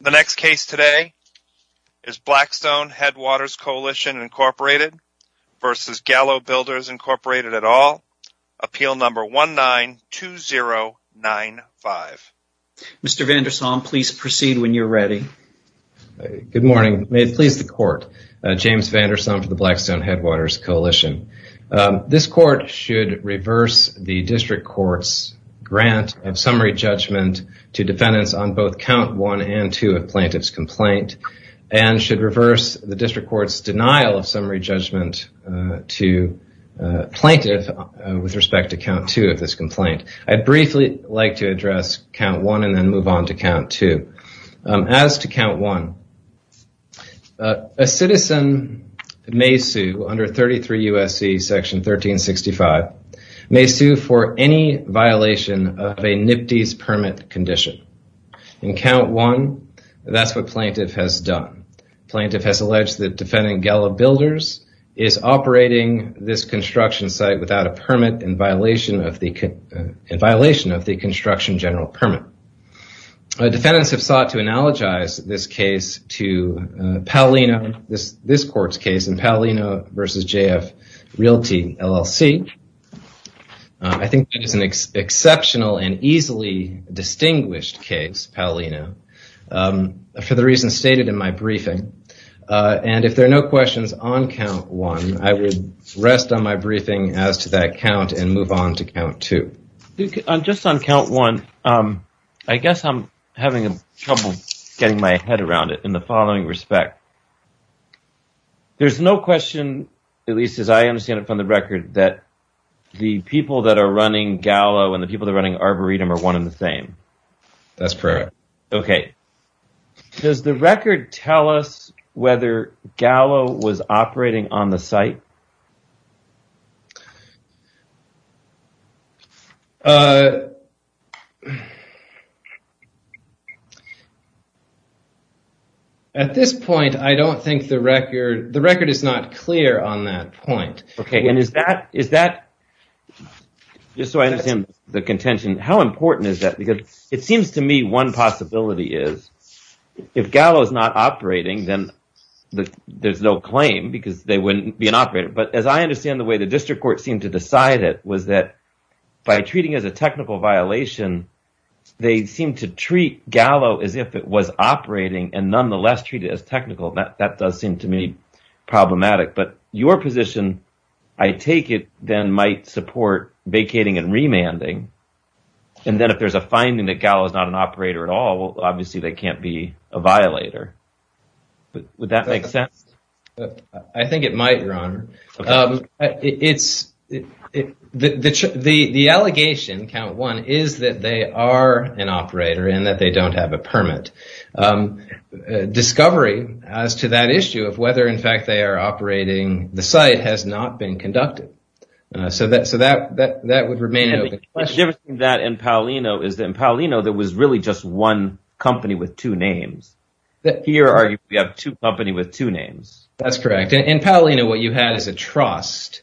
The next case today is Blackstone Headwaters Coalition, Inc. v. Gallo Builders, Inc. at all, appeal number 19-2095. Mr. Vandersom, please proceed when you're ready. Good morning. May it please the Court, James Vandersom for the Blackstone Headwaters Coalition. This Court should reverse the District Court's grant of summary judgment to defendants on both count 1 and 2 of plaintiff's complaint and should reverse the District Court's denial of summary judgment to plaintiff with respect to count 2 of this complaint. I'd briefly like to address count 1 and then move on to count 2. As to count 1, a citizen may sue under 33 U.S.C. section 1365, may sue for any violation of a NIPTES permit condition. In count 1, that's what plaintiff has done. Plaintiff has alleged that defendant Gallo Builders is operating this construction site without a permit in violation of the construction general permit. Defendants have sought to analogize this case to Paolino, this Court's case in Paolino v. J.F. Realty, LLC. I think that is an exceptional and easily distinguished case, Paolino, for the reasons stated in my briefing. And if there are no questions on count 1, I would rest on my briefing as to that count and move on to count 2. Just on count 1, I guess I'm having trouble getting my head around it in the following respect. There's no question, at least as I understand it from the record, that the people that are running Gallo and the people that are running Arboretum are one and the same. That's correct. Okay. Does the record tell us whether Gallo was operating on the site? At this point, I don't think the record, the record is not clear on that point. Okay. And is that, just so I understand the contention, how important is that? Because it seems to me one possibility is if Gallo is not operating, then there's no But as I understand the way the district court seemed to decide it was that by treating it as a technical violation, they seemed to treat Gallo as if it was operating and nonetheless treat it as technical. That does seem to me problematic. But your position, I take it, then might support vacating and remanding. And then if there's a finding that Gallo is not an operator at all, well, obviously they can't be a violator. Would that make sense? I think it might, Your Honor. The allegation, count one, is that they are an operator and that they don't have a permit. Discovery as to that issue of whether in fact they are operating the site has not been conducted. So that would remain an open question. The difference between that and Paolino is that in Paolino there was really just one company with two names. Here we have two companies with two names. That's correct. In Paolino, what you had is a trust,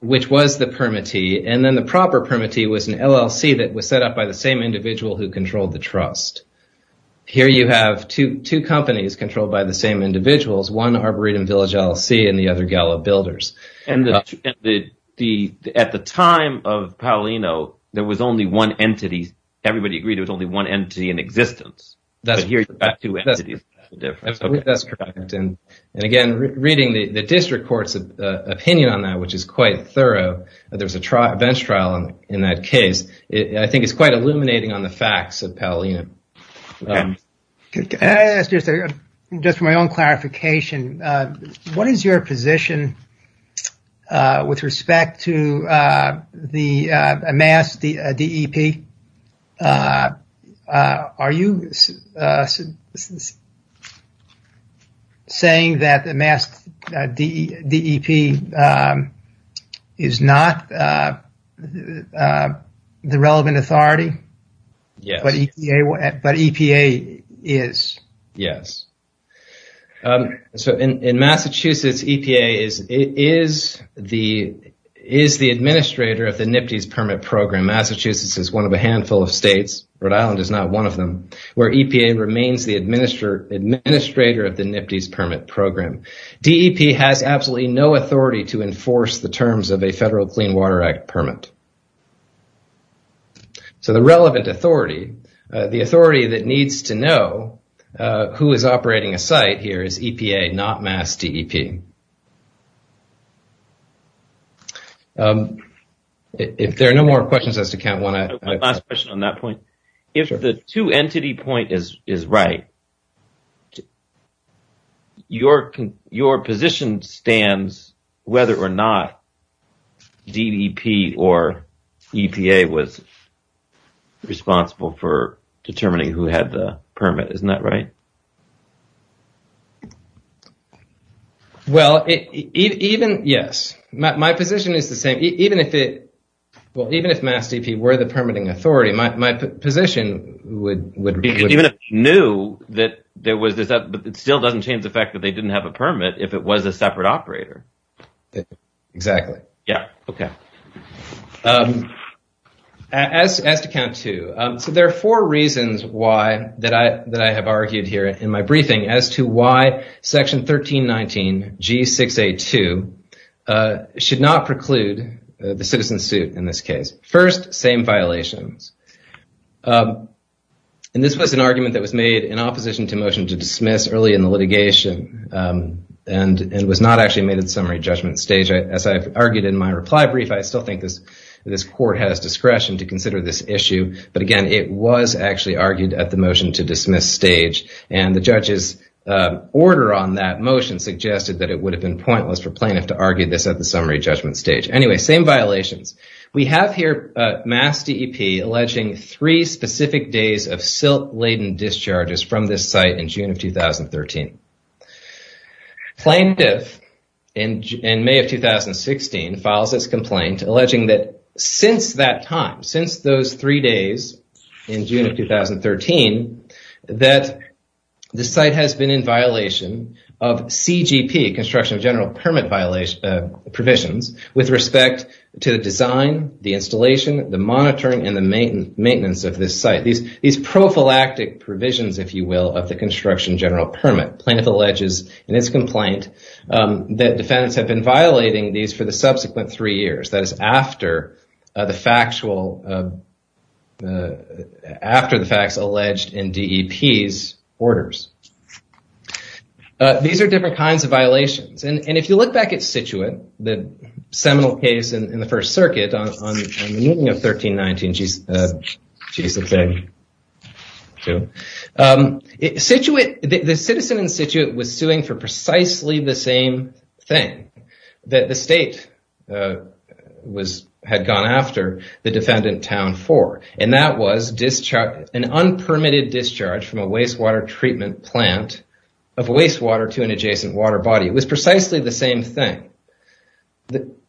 which was the permittee. And then the proper permittee was an LLC that was set up by the same individual who controlled the trust. Here you have two companies controlled by the same individuals, one Arboretum Village LLC and the other Gallo Builders. At the time of Paolino, there was only one entity. Everybody agreed there was only one entity in existence. Here you have two entities. That's correct. And again, reading the district court's opinion on that, which is quite thorough, there was a bench trial in that case. I think it's quite illuminating on the facts of Paolino. I'll ask just my own clarification. What is your position with respect to the MAS DEP? Are you saying that the MAS DEP is not the relevant authority, but EPA is? Yes. In Massachusetts, EPA is the administrator of the NIPTES permit program. Massachusetts is one of a handful of states, Rhode Island is not one of them, where EPA remains the administrator of the NIPTES permit program. DEP has absolutely no authority to enforce the terms of a Federal Clean Water Act permit. So the relevant authority, the authority that needs to know who is operating a site here is EPA, not MAS DEP. If there are no more questions as to count one, I... My last question on that point, if the two entity point is right, your position stands whether or not DEP or EPA was responsible for determining who had the permit, isn't that right? Well, even, yes. My position is the same. Even if it, well, even if MAS DEP were the permitting authority, my position would... Even if you knew that there was, it still doesn't change the fact that they didn't have a permit if it was a separate operator. Exactly. Yeah. Okay. As to count two, so there are four reasons why that I have argued here in my briefing as to why section 1319 G6A2 should not preclude the citizen suit in this case. First, same violations. And this was an argument that was made in opposition to motion to dismiss early in the litigation and was not actually made at the summary judgment stage. As I've argued in my reply brief, I still think this court has discretion to consider this issue. But again, it was actually argued at the motion to dismiss stage. And the judge's order on that motion suggested that it would have been pointless for plaintiff to argue this at the summary judgment stage. Anyway, same violations. We have here MAS DEP alleging three specific days of silt-laden discharges from this site in June of 2013. Plaintiff, in May of 2016, files this complaint alleging that since that time, since those three days in June of 2013, that the site has been in violation of CGP, construction general permit provisions, with respect to the design, the installation, the monitoring, and the maintenance of this site. These prophylactic provisions, if you will, of the construction general permit. Plaintiff alleges in its complaint that defendants have been violating these for the subsequent three years. That is after the facts alleged in DEP's orders. These are different kinds of violations. And if you look back at Cituate, the seminal case in the First Circuit on the meeting of 13-19, the citizen in Cituate was suing for precisely the same thing that the state had gone after the defendant town for. And that was an unpermitted discharge from a wastewater treatment plant of wastewater to an adjacent water body. It was precisely the same thing.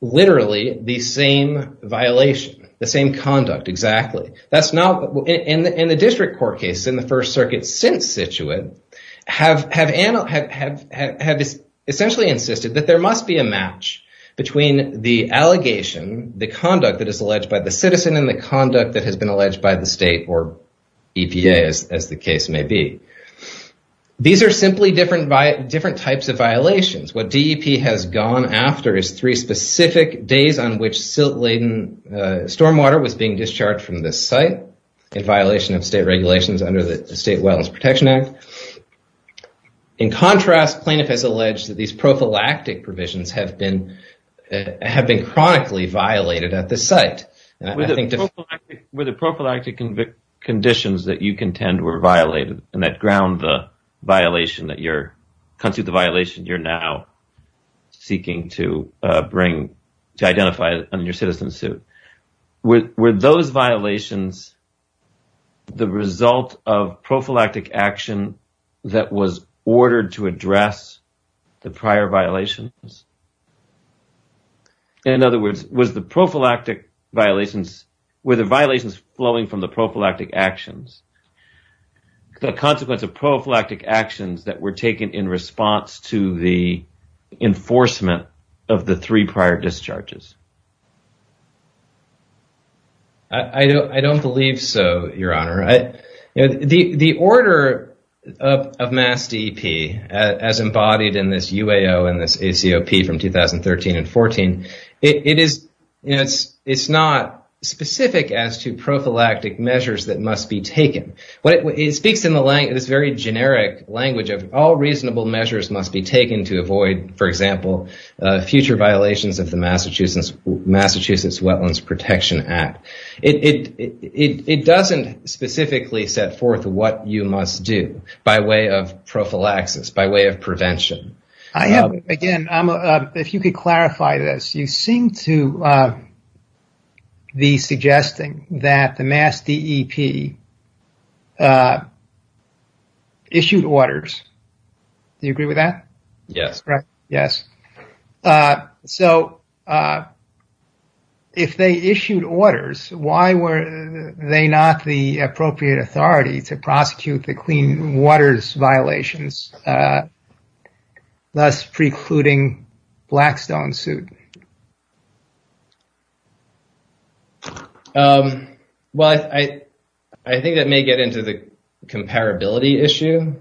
Literally, the same violation, the same conduct, exactly. That's not, in the district court case in the First Circuit since Cituate, have essentially insisted that there must be a match between the allegation, the conduct that is alleged by the citizen, and the conduct that has been alleged by the state or EPA, as the case may be. These are simply different types of violations. What DEP has gone after is three specific days on which silt-laden stormwater was being discharged from this site in violation of state regulations under the State Wellness Protection Act. In contrast, plaintiff has alleged that these prophylactic provisions have been chronically violated at this site. With the prophylactic conditions that you contend were violated and that ground the violation you're now seeking to bring, to identify on your citizen suit. Were those violations the result of prophylactic action that was ordered to address the prior violations? In other words, was the prophylactic violations, were the violations flowing from the prophylactic actions, the consequence of prophylactic actions that were taken in response to the enforcement of the three prior discharges? I don't believe so, Your Honor. The order of MAS DEP as embodied in this UAO and this ACOP from 2013 and 14, it's not specific as to prophylactic measures that must be taken. It speaks in this very generic language of all reasonable measures must be taken to avoid, for example, future violations of the Massachusetts Wetlands Protection Act. It doesn't specifically set forth what you must do by way of prophylaxis, by way of prevention. Again, if you could clarify this, you seem to be suggesting that the MAS DEP issued orders. Do you agree with that? Yes. Correct. Yes. So, if they issued orders, why were they not the appropriate authority to prosecute the less precluding Blackstone suit? Well, I think that may get into the comparability issue.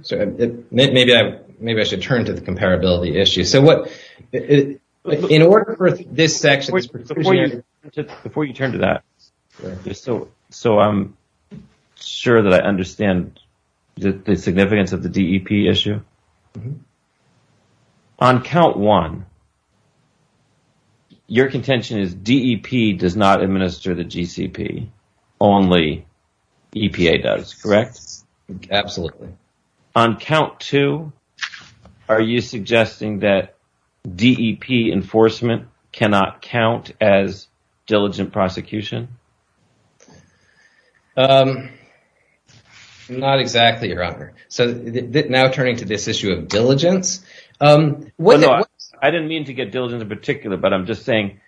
Maybe I should turn to the comparability issue. So, in order for this section... Before you turn to that, so I'm sure that I understand the significance of the DEP issue. On count one, your contention is DEP does not administer the GCP, only EPA does, correct? Absolutely. On count two, are you suggesting that DEP enforcement cannot count as diligent prosecution? Not exactly, Your Honor. So, now turning to this issue of diligence... I didn't mean to get diligent in particular, but I'm just saying...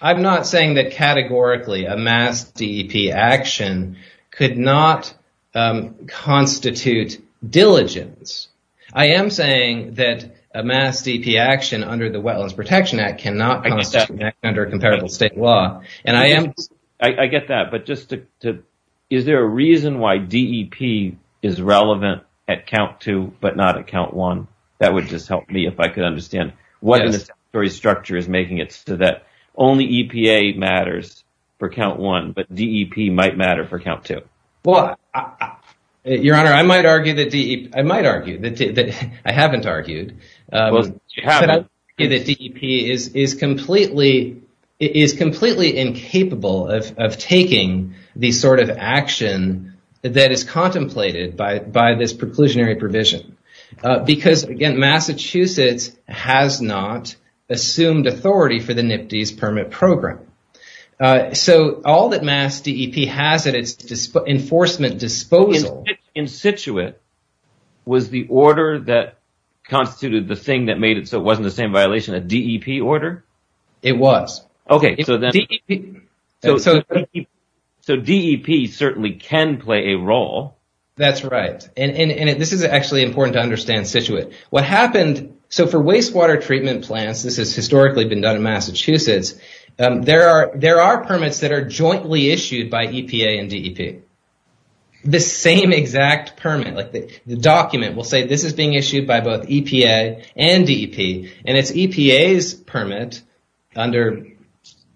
I'm not saying that categorically a MAS DEP action could not constitute diligence. I am saying that a MAS DEP action under the Wetlands Protection Act cannot constitute under a comparable state law. I get that, but is there a reason why DEP is relevant at count two, but not at count one? That would just help me if I could understand what the statutory structure is making it so that only EPA matters for count one, but DEP might matter for count two. Well, Your Honor, I might argue that DEP... I might argue that DEP... I haven't argued that DEP is completely incapable of taking the sort of action that is contemplated by this preclusionary provision. Because, again, Massachusetts has not assumed authority for the NPDES permit program. So, all that MAS DEP has at its enforcement disposal... In situate, was the order that constituted the thing that made it so it wasn't the same violation a DEP order? It was. Okay. So, DEP certainly can play a role. That's right. And this is actually important to understand situate. What happened... So, for wastewater treatment plants, this has historically been done in Massachusetts, there are permits that are jointly issued by EPA and DEP. The same exact permit, the document will say this is being issued by both EPA and DEP, and it's EPA's permit under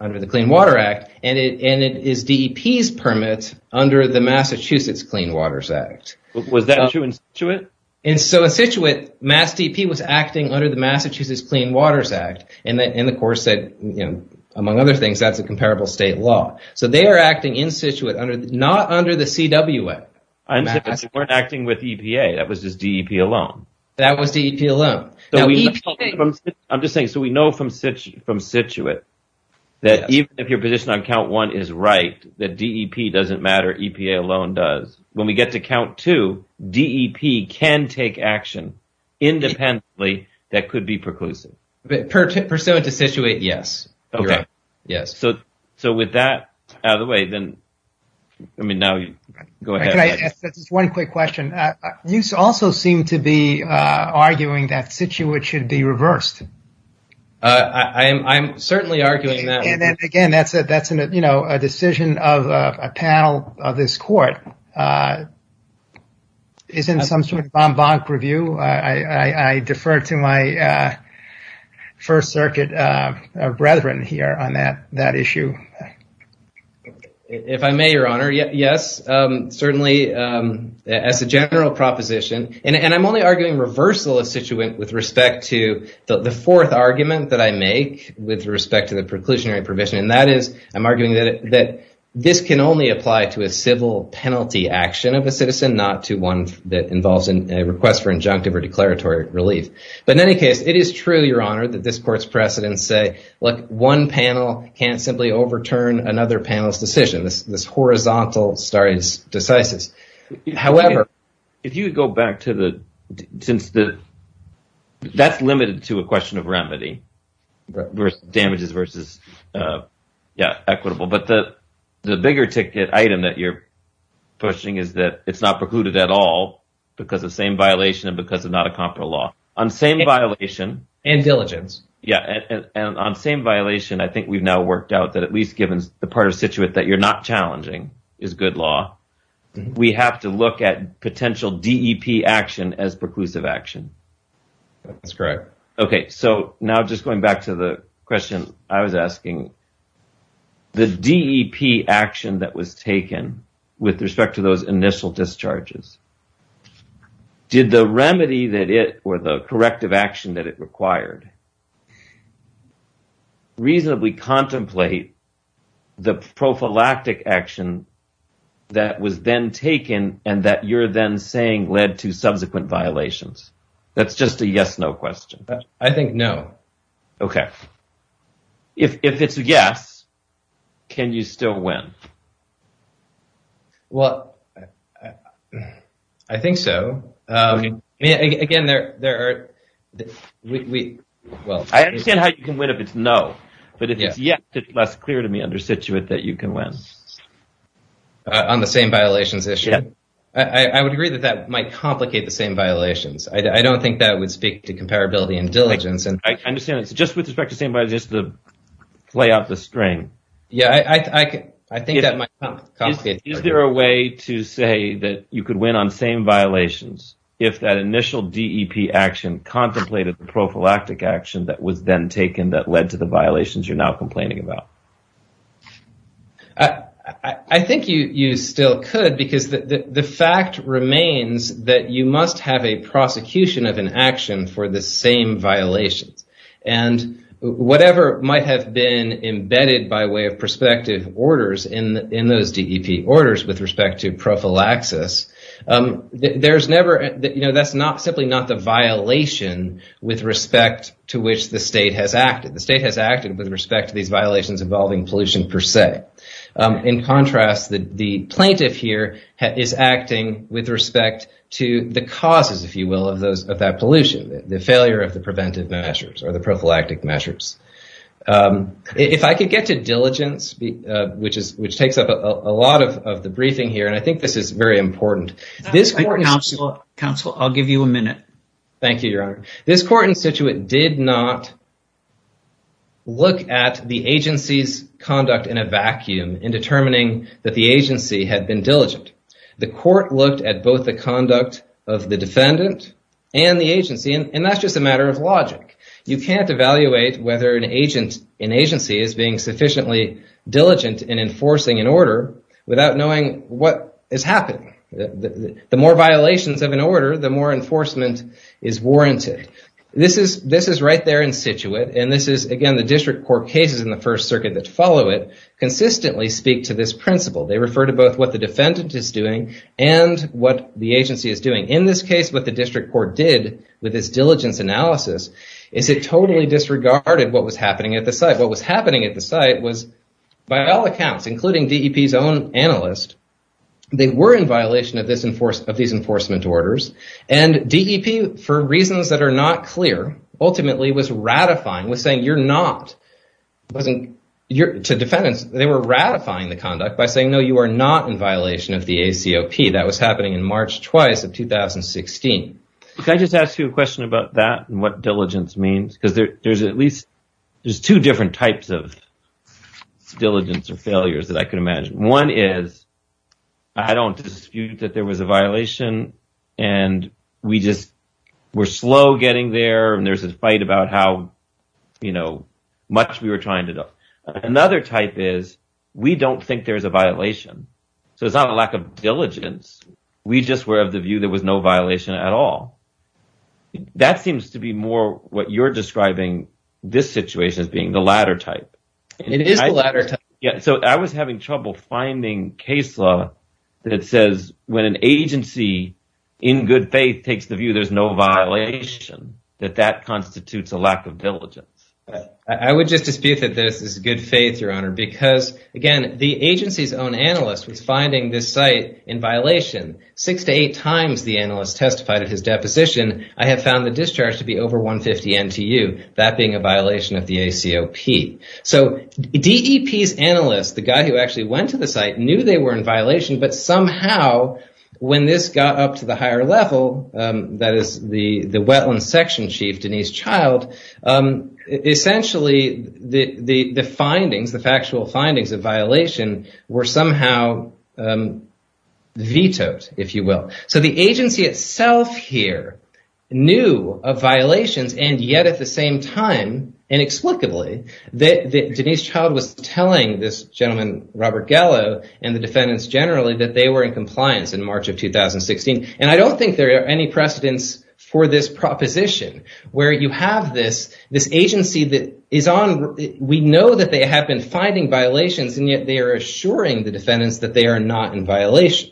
the Clean Water Act, and it is DEP's permit under the Massachusetts Clean Waters Act. Was that true in situate? In situate, MAS DEP was acting under the Massachusetts Clean Waters Act, and, of course, among other things, that's a comparable state law. So, they are acting in situate, not under the CWA. I understand, but they weren't acting with EPA, that was just DEP alone. That was DEP alone. I'm just saying, so we know from situate that even if your position on count one is right, that DEP doesn't matter, EPA alone does. When we get to count two, DEP can take action independently that could be preclusive. Pursuant to situate, yes. Okay. Yes. So, with that out of the way, then, I mean, now you go ahead. Can I ask just one quick question? You also seem to be arguing that situate should be reversed. I'm certainly arguing that. Again, that's a decision of a panel of this court. It's in some sort of bon-bonk review. I defer to my First Circuit brethren here on that issue. If I may, Your Honor, yes. Certainly, as a general proposition, and I'm only arguing reversal of situate with respect to the fourth argument that I make with respect to the preclusionary provision, and that is, I'm arguing that this can only apply to a civil penalty action of a citizen, not to one that involves a request for injunctive or declaratory relief. But in any case, it is true, Your Honor, that this court's precedents say, look, one panel can't simply overturn another panel's decision. This horizontal stare decisis. However, if you would go back to the, since the, that's limited to a question of remedy, versus damages, versus, yeah, equitable. But the bigger ticket item that you're pushing is that it's not precluded at all because of same violation and because of not a comparable law. On same violation. And diligence. Yeah, and on same violation, I think we've now worked out that at least given the part of situate that you're not challenging is good law. We have to look at potential DEP action as preclusive action. That's correct. Okay, so now just going back to the question I was asking, the DEP action that was taken with respect to those initial discharges, did the remedy that it, or the corrective action that it required, reasonably contemplate the prophylactic action that was then taken and that you're then saying led to subsequent violations? That's just a yes, no question. I think no. Okay. If it's a yes, can you still win? Well, I think so. Again, there are... I understand how you can win if it's no. But if it's yes, it's less clear to me under situate that you can win. On the same violations issue? Yeah. I would agree that that might complicate the same violations. I don't think that would speak to comparability and diligence. I understand. It's just with respect to same violations to play out the string. Yeah, I think that might complicate... Is there a way to say that you could win on same violations if that initial DEP action contemplated the prophylactic action that was then taken that led to the violations you're now complaining about? I think you still could because the fact remains that you must have a prosecution of an action for the same violations. And whatever might have been embedded by way of prospective orders in those DEP orders with respect to prophylaxis, there's never... That's simply not the violation with respect to which the state has acted. The state has acted with respect to these violations involving pollution per se. In contrast, the plaintiff here is acting with respect to the causes, if you will, of that pollution, the failure of the preventive measures or the prophylactic measures. If I could get to diligence, which takes up a lot of the briefing here, and I think this is very important. Counselor, I'll give you a minute. Thank you, Your Honor. This court in situate did not look at the agency's conduct in a vacuum in determining that the agency had been diligent. The court looked at both the conduct of the defendant and the agency, and that's just a matter of logic. You can't evaluate whether an agent in agency is being sufficiently diligent in enforcing an order without knowing what is happening. The more violations of an order, the more enforcement is warranted. This is right there in situate, and this is, again, the district court cases in the First Circuit that follow it, consistently speak to this principle. They refer to both what the defendant is doing and what the agency is doing. In this case, what the district court did with this diligence analysis is it totally disregarded what was happening at the site. What was happening at the site was, by all accounts, including DEP's own analyst, they were in violation of these enforcement orders, and DEP, for reasons that are not clear, ultimately was ratifying, was saying, you're not. To defendants, they were ratifying the conduct by saying, no, you are not in violation of the ACOP. That was happening in March twice of 2016. Can I just ask you a question about that and what diligence means? There's at least two different types of diligence or failures that I can imagine. One is, I don't dispute that there was a violation, and we're slow getting there, and there's this fight about how, you know, much we were trying to do. Another type is, we don't think there's a violation, so it's not a lack of diligence. We just were of the view there was no violation at all. That seems to be more what you're describing this situation as being, the latter type. It is the latter type. I was having trouble finding case law that says, when an agency, in good faith, takes the view there's no violation, that that constitutes a lack of diligence. I would just dispute that this is good faith, your honor, because, again, the agency's own analyst was finding this site in violation. Six to eight times the analyst testified at his deposition, I have found the discharge to be over 150 NTU, that being a violation of the ACOP. So, DEP's analyst, the guy who actually went to the site, knew they were in violation, but somehow, when this got up to the higher level, that is, the wetland section chief, Denise Child, essentially, the findings, the factual findings of violation, were somehow vetoed, if you will. So, the agency itself here knew of violations, and yet, at the same time, inexplicably, that Denise Child was telling this gentleman, Robert Gallo, and the defendants generally, that they were in compliance in March of 2016. And I don't think there are any precedents for this proposition, where you have this agency that is on, we know that they have been finding violations, and yet, they are assuring the defendants that they are not in violation.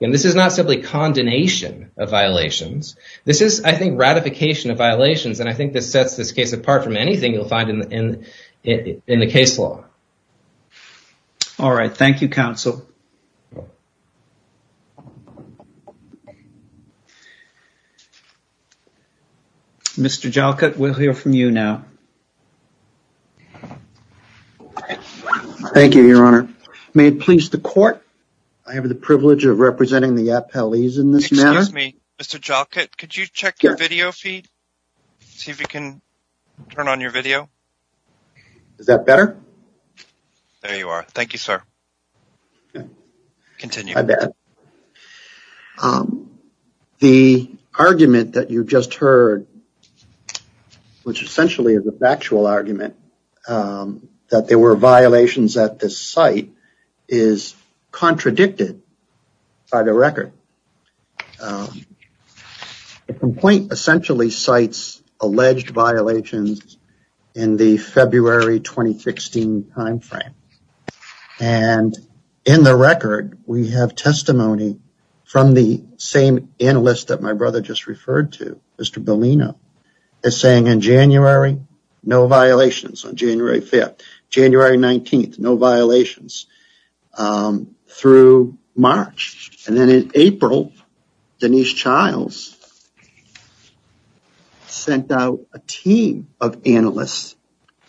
And this is not simply condemnation of violations, this is, I think, ratification of violations, and I think this sets this case apart from anything you'll find in the case law. All right, thank you, counsel. Mr. Jalkut, we'll hear from you now. Thank you, Your Honor. May it please the court, I have the privilege of representing the appellees in this matter. Excuse me, Mr. Jalkut, could you check your video feed? See if you can turn on your video. Is that better? There you are, thank you, sir. Continue. I bet. The argument that you just heard, which essentially is a factual argument, that there were violations at this site, is contradicted by the record. The complaint essentially cites alleged violations in the February 2016 time frame. And in the record, we have testimony from the same analyst that my brother just referred to, Mr. Bellino, is saying in January, no violations on January 5th. January 19th, no violations through March. And then in April, Denise Childs sent out a team of analysts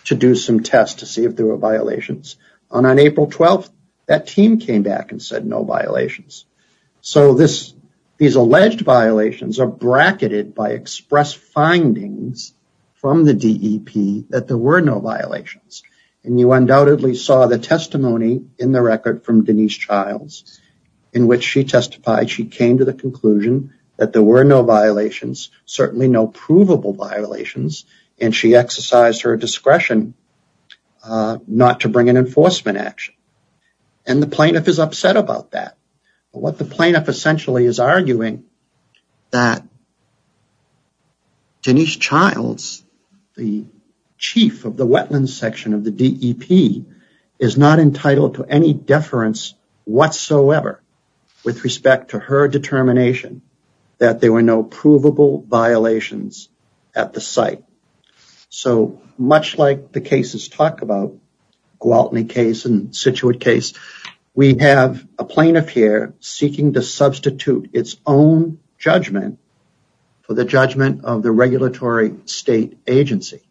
to do some tests to see if there were violations. And on April 12th, that team came back and said no violations. So these alleged violations are bracketed by express findings from the DEP that there were no violations. And you undoubtedly saw the testimony in the record from Denise Childs, in which she testified she came to the conclusion that there were no violations, certainly no provable violations, and she exercised her discretion not to bring an enforcement action. And the plaintiff is upset about that. What the plaintiff essentially is arguing, that Denise Childs, the chief of the wetlands section of the DEP, is not entitled to any deference whatsoever with respect to her determination that there were no provable violations at the site. So much like the cases talk about, Gwaltney case and Scituate case, we have a plaintiff here seeking to substitute its own judgment for the judgment of the regulatory state agency.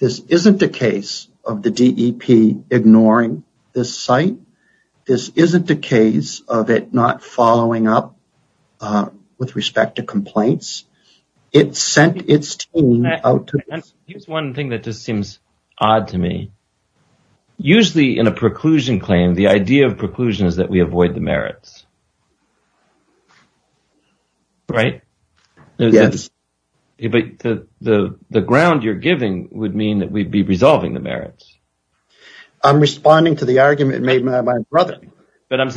This isn't a case of the DEP ignoring this site. This isn't a case of it not following up with respect to complaints. Here's one thing that just seems odd to me. Usually in a preclusion claim, the idea of preclusion is that we avoid the merits. Right? Yes. The ground you're giving would mean that we'd be resolving the merits. I'm responding to the argument made by my brother. I'm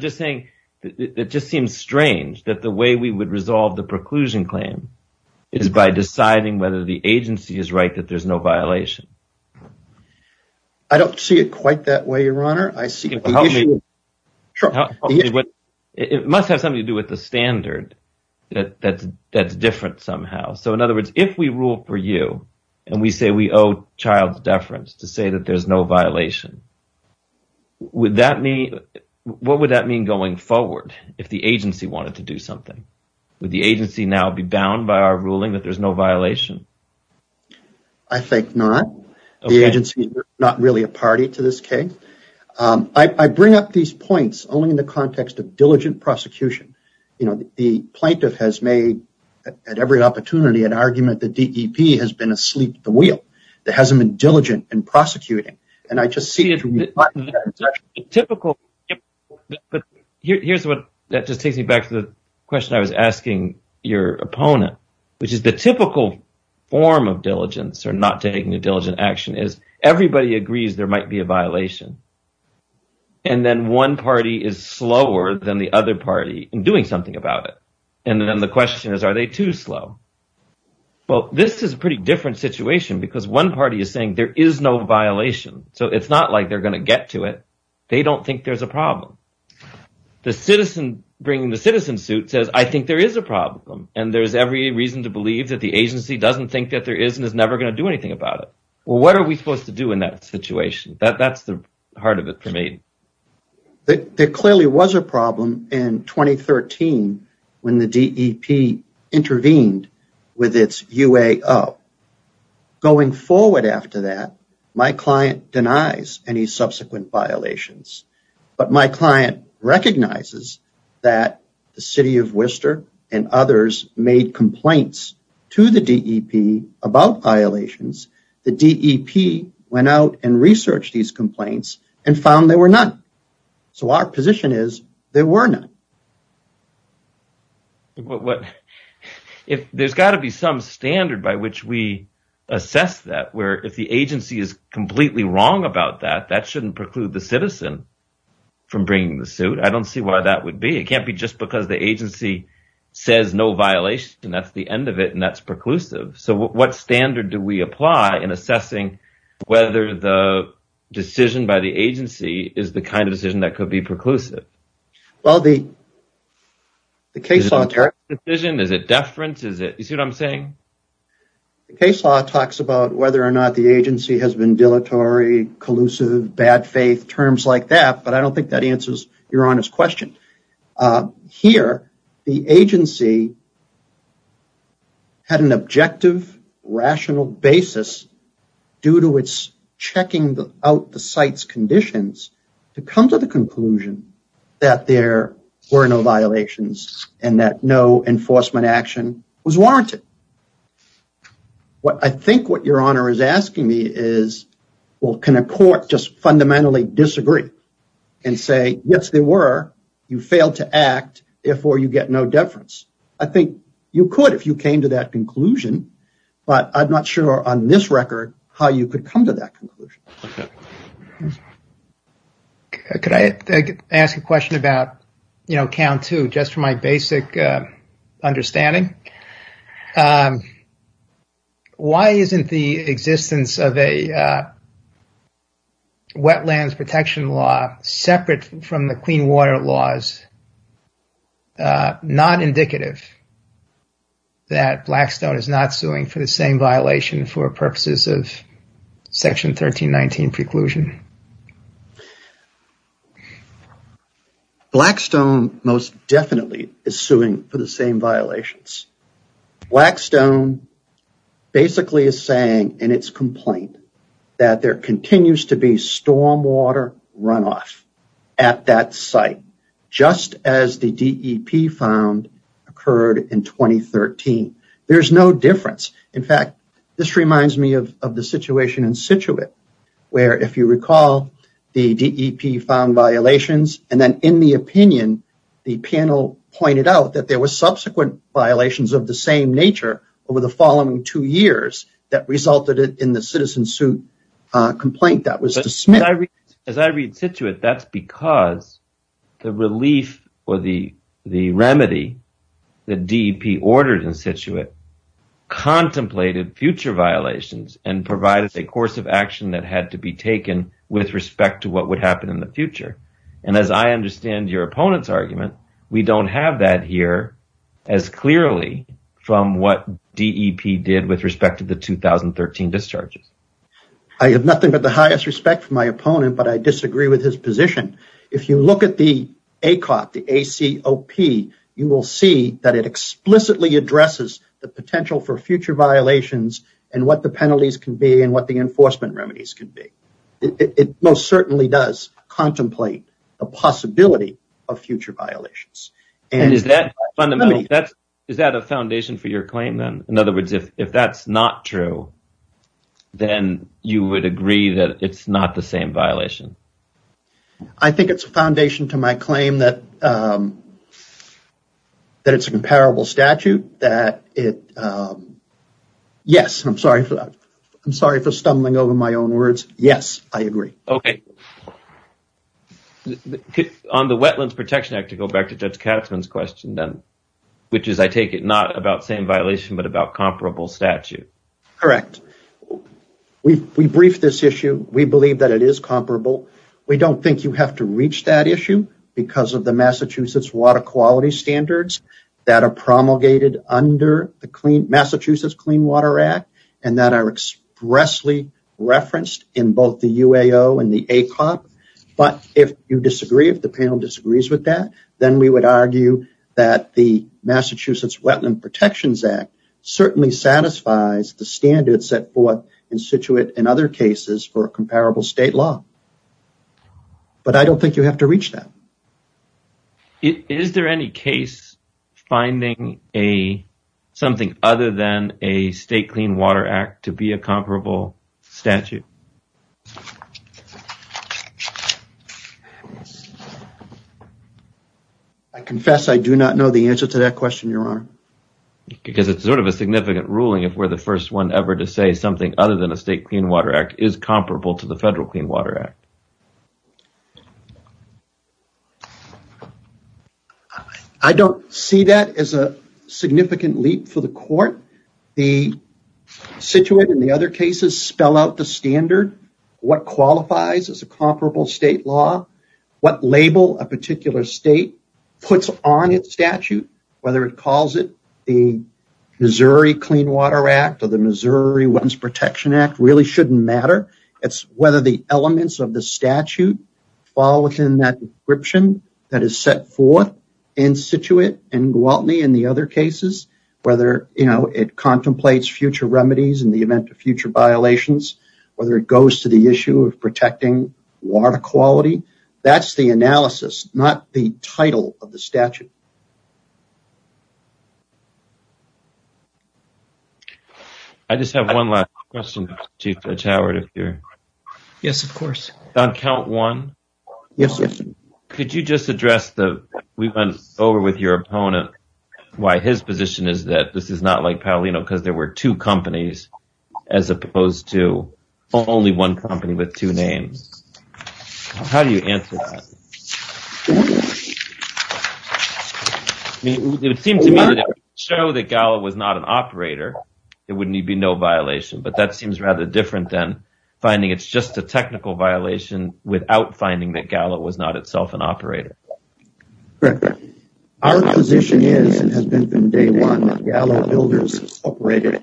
just saying that it just seems strange that the way we would resolve the preclusion claim is by deciding whether the agency is right that there's no violation. I don't see it quite that way, your honor. It must have something to do with the standard that's different somehow. So in other words, if we rule for you and we say we owe Childs deference to say that there's no violation, what would that mean going forward if the agency wanted to do something? Would the agency now be bound by our ruling that there's no violation? I think not. The agency is not really a party to this case. I bring up these points only in the context of diligent prosecution. The plaintiff has made at every opportunity an argument that DEP has been asleep at the wheel. That hasn't been diligent in prosecuting. Here's what that just takes me back to the question I was asking your opponent, which is the typical form of diligence or not taking a diligent action is everybody agrees there might be a violation and then one party is slower than the other party in doing something about it. Then the question is, are they too slow? This is a pretty different situation because one party is saying there is no violation. So it's not like they're going to get to it. They don't think there's a problem. The citizen bringing the citizen suit says I think there is a problem and there's every reason to believe that the agency doesn't think that there is and is never going to do anything about it. What are we supposed to do in that situation? That's the heart of it for me. There clearly was a problem in 2013 when the DEP intervened with its UAO. Going forward after that, my client denies any subsequent violations, but my client recognizes that the city of Worcester and others made complaints to the DEP about violations. The DEP went out and researched these complaints and found there were none. So our position is there were none. There's got to be some standard by which we assess that where if the agency is completely wrong about that, that shouldn't preclude the citizen from bringing the suit. I don't see why that would be. It can't be just because the agency says no violations and that's the end of it and that's preclusive. What standard do we apply in assessing whether the decision by the agency is the kind of decision that could be preclusive? The case law talks about whether or not the agency has been dilatory, collusive, bad faith, terms like that, but I don't think that answers your honest question. Here, the agency had an objective, rational basis due to its checking out the site's conditions to come to the conclusion that there were no violations and that no enforcement action was warranted. I think what your honor is asking me is can a court just fundamentally disagree and say yes they were, you failed to act, therefore you get no deference. I think you could if you came to that conclusion, but I'm not sure on this record how you could come to that conclusion. Could I ask a question about count two just for my basic understanding? Why isn't the existence of a wetlands protection law separate from the clean water laws not indicative that Blackstone is not suing for the same violation for purposes of Section 1319 preclusion? Blackstone most definitely is suing for the same violations. Blackstone basically is saying in its complaint that there continues to be storm water runoff at that site just as the DEP found occurred in 2013. There's no difference. In fact, this is the case in Scituate where if you recall the DEP found violations and then in the opinion the panel pointed out that there were subsequent violations of the same nature over the following two years that resulted in the citizen suit complaint that was dismissed. As I read Scituate, that's because the relief or the remedy that DEP ordered in Scituate contemplated future violations and provided a course of action that had to be taken with respect to what would happen in the future. As I understand your opponent's argument, we don't have that here as clearly from what DEP did with respect to the 2013 discharges. I have nothing but the highest respect for my opponent, but I disagree with his position. If you look at the ACOP, you will see that it explicitly addresses the potential for future violations and what the penalties can be and what the enforcement remedies can be. It most certainly does contemplate a possibility of future violations. Is that a foundation for your claim? In other words, if that's not true, then you would agree that it's not the same violation? I think it's a foundation to my claim that it's a comparable statute. Yes, I'm sorry for stumbling over my own words. Yes, I agree. On the Wetlands Protection Act, to go back to Judge Katzmann's question, which is, I take it, not about same violation but about comparable statute. Correct. We briefed this issue. We believe that it is comparable. We don't think you have to reach that issue because of the Massachusetts water quality standards that are promulgated under the Massachusetts Clean Water Act and that are expressly referenced in both the UAO and the ACOP. But if you disagree, if the panel disagrees with that, then we would argue that the Massachusetts Wetlands Protection Act certainly satisfies the standards for what in situate in other cases for a comparable state law. But I don't think you have to reach that. Is there any case finding something other than a state clean water act to be a comparable statute? I confess I do not know the answer to that question, Your Honor. Because it's sort of a significant ruling if we're the first one ever to say something other than a state clean water act is comparable to the federal clean water act. I don't see that as a significant leap for the court. The situate in the other cases spell out the standard. What qualifies as a comparable state law, what label a particular state puts on its statute, whether it calls it the Missouri Clean Water Act or the Missouri Wetlands Protection Act really shouldn't matter. It's whether the elements of the statute fall within that description that is set forth in situate in Gwaltney and the other cases, whether it contemplates future remedies in the event of future violations, whether it goes to the issue of protecting water quality. That's the analysis, not the title of the statute. I just have one last question, Chief Judge Howard. Yes, of course. On count one, could you just address the, we went over with your opponent, why his position is that this is not like Paolino because there were two companies as opposed to only one company with two names. How do you answer that? It would seem to me that if you show that Gallo was not an operator, it would be no violation, but that seems rather different than finding it's just a technical violation without finding that Gallo was not itself an operator. Correct. Our position is and has been from day one that Gallo was an operator.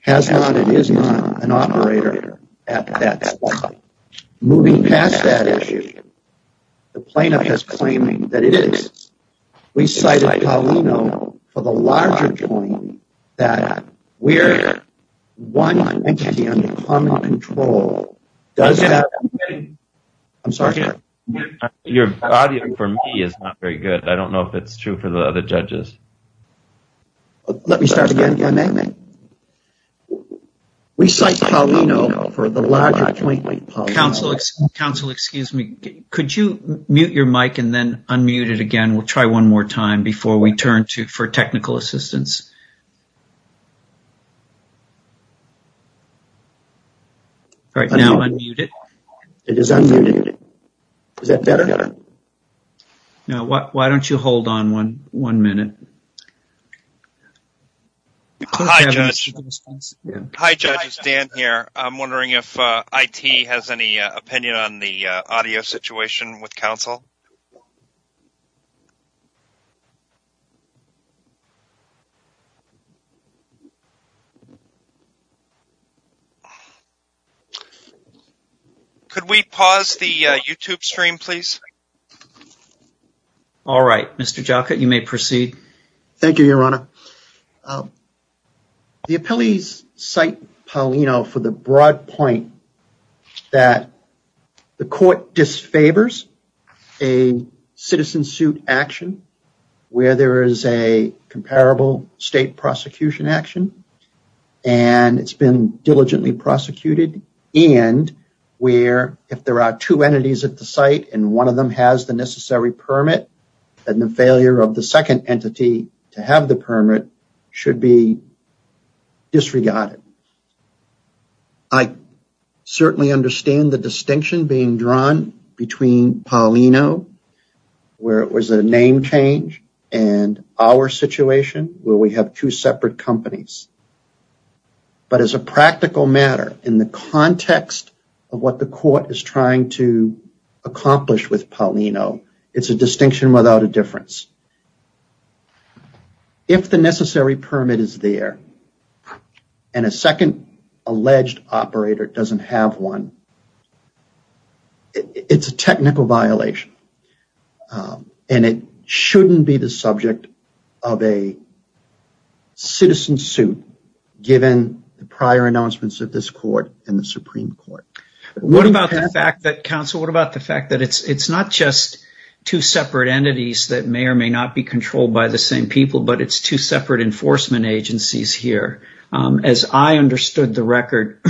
Has not and is not an operator at that time. Moving past that issue, the plaintiff is claiming that it is. We cited Paolino for the larger point that we're one entity under common control. Does that make sense? Your audio for me is not very good. I don't know if it's true for the other judges. Let me start again. We cite Paolino for the larger point. Excuse me. Could you mute your mic and then unmute it again? We'll try one more time before we turn to for technical assistance. It is unmuted. Is that better? Why don't you hold on one minute? Hi, Judge. Hi, Judge. It's Dan here. I'm wondering if IT has any opinion on the audio situation with counsel? Could we pause the YouTube stream, please? All right. Mr. Jockett, you may proceed. Thank you, Your Honor. The appellees cite Paolino for the broad point that the court disfavors a citizen suit action where there is a comparable state prosecution action and it's been diligently prosecuted and where if there are two entities at the site and one of them has the necessary permit and the failure of the second entity to have the permit should be disregarded. I certainly understand the distinction being drawn between Paolino where it was a name change and our situation where we have two separate companies. But as a practical matter, in the context of what the court is trying to accomplish with Paolino, it's a distinction without a difference. If the necessary permit is there and a second alleged operator doesn't have one, it's a technical violation and it shouldn't be the subject of a citizen suit given the prior announcements of this court and the Supreme Court. What about the fact that it's not just two separate entities that may or may not be controlled by the same people, but it's two separate enforcement agencies here? As I understood the record,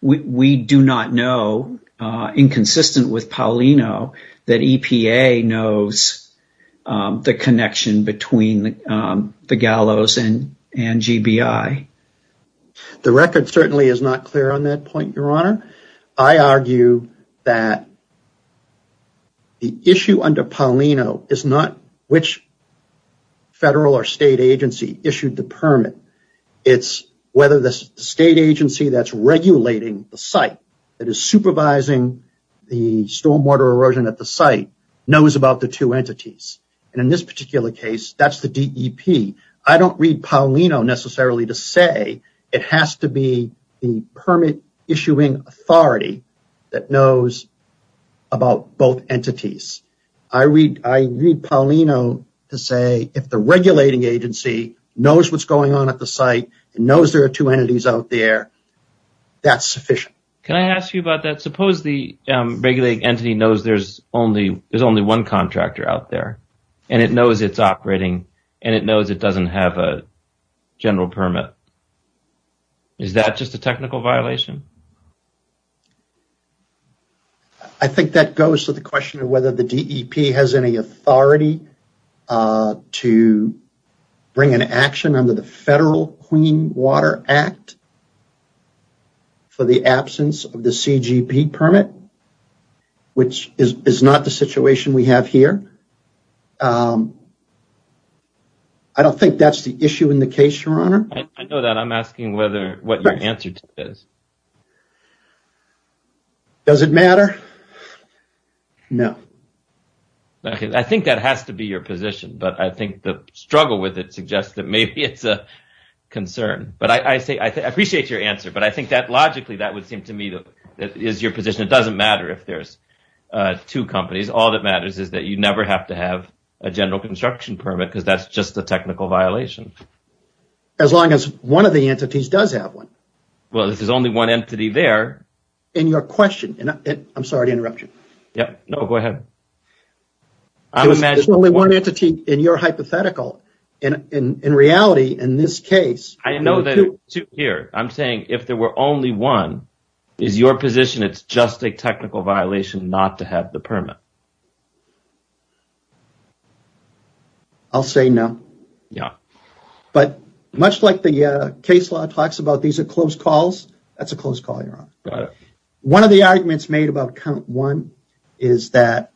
we do not know, inconsistent with Paolino, that EPA knows the connection between the gallows and GBI. The record certainly is not clear on that point, Your Honor. I argue that the issue under Paolino is not which federal or state agency issued the permit. It's whether the state agency that's regulating the site, that is supervising the stormwater erosion at the site, knows about the two entities. In this particular case, that's the DEP. I don't read Paolino necessarily to say it has to be the permit issuing authority that knows about both entities. I read Paolino to say if the regulating agency knows what's going on at the site and knows there are two entities out there, that's sufficient. Can I ask you about that? Suppose the regulating entity knows there's only one contractor out there and it knows it's operating and it knows it doesn't have a general permit. Is that just a technical violation? I think that goes to the question of whether the DEP has any authority to bring an action under the federal Clean Water Act for the absence of the CGP permit, which is not the situation we have here. I don't think that's the issue in the case, Your Honor. I know that. I'm asking what your answer to that is. Does it matter? No. I think that has to be your position, but I think the struggle with it suggests that maybe it's a concern. I appreciate your answer, but I think that logically that would seem to me that is your position. It doesn't matter if there's two companies. All that matters is that you never have to have a general construction permit because that's just a technical violation. As long as one of the entities does have one. Well, if there's only one entity there... In your question... I'm sorry to interrupt you. There's only one entity in your hypothetical. In reality, in this case... I'm saying if there were only one, is your position it's just a technical violation not to have the permit? I'll say no. Much like the case law talks about these are closed calls, that's a closed call, Your Honor. One of the arguments made about count one is that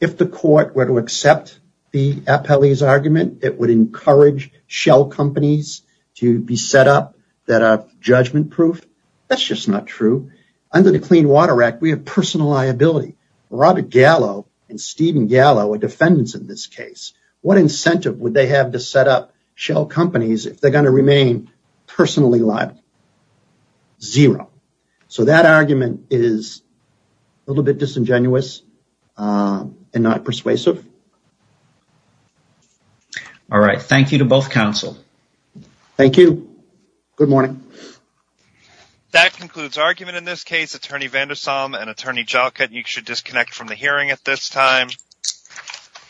if the court were to accept the appellee's argument, it would encourage shell companies to be set up that are judgment-proof. That's just not true. Under the Clean Water Act, we have personal liability. Robert Gallo and Stephen Gallo are defendants in this case. What incentive would they have to set up shell companies if they're going to remain personally liable? Zero. So that argument is a little bit disingenuous and not persuasive. Thank you to both counsel. Thank you. Good morning. That concludes argument in this case. You should disconnect from the hearing at this time.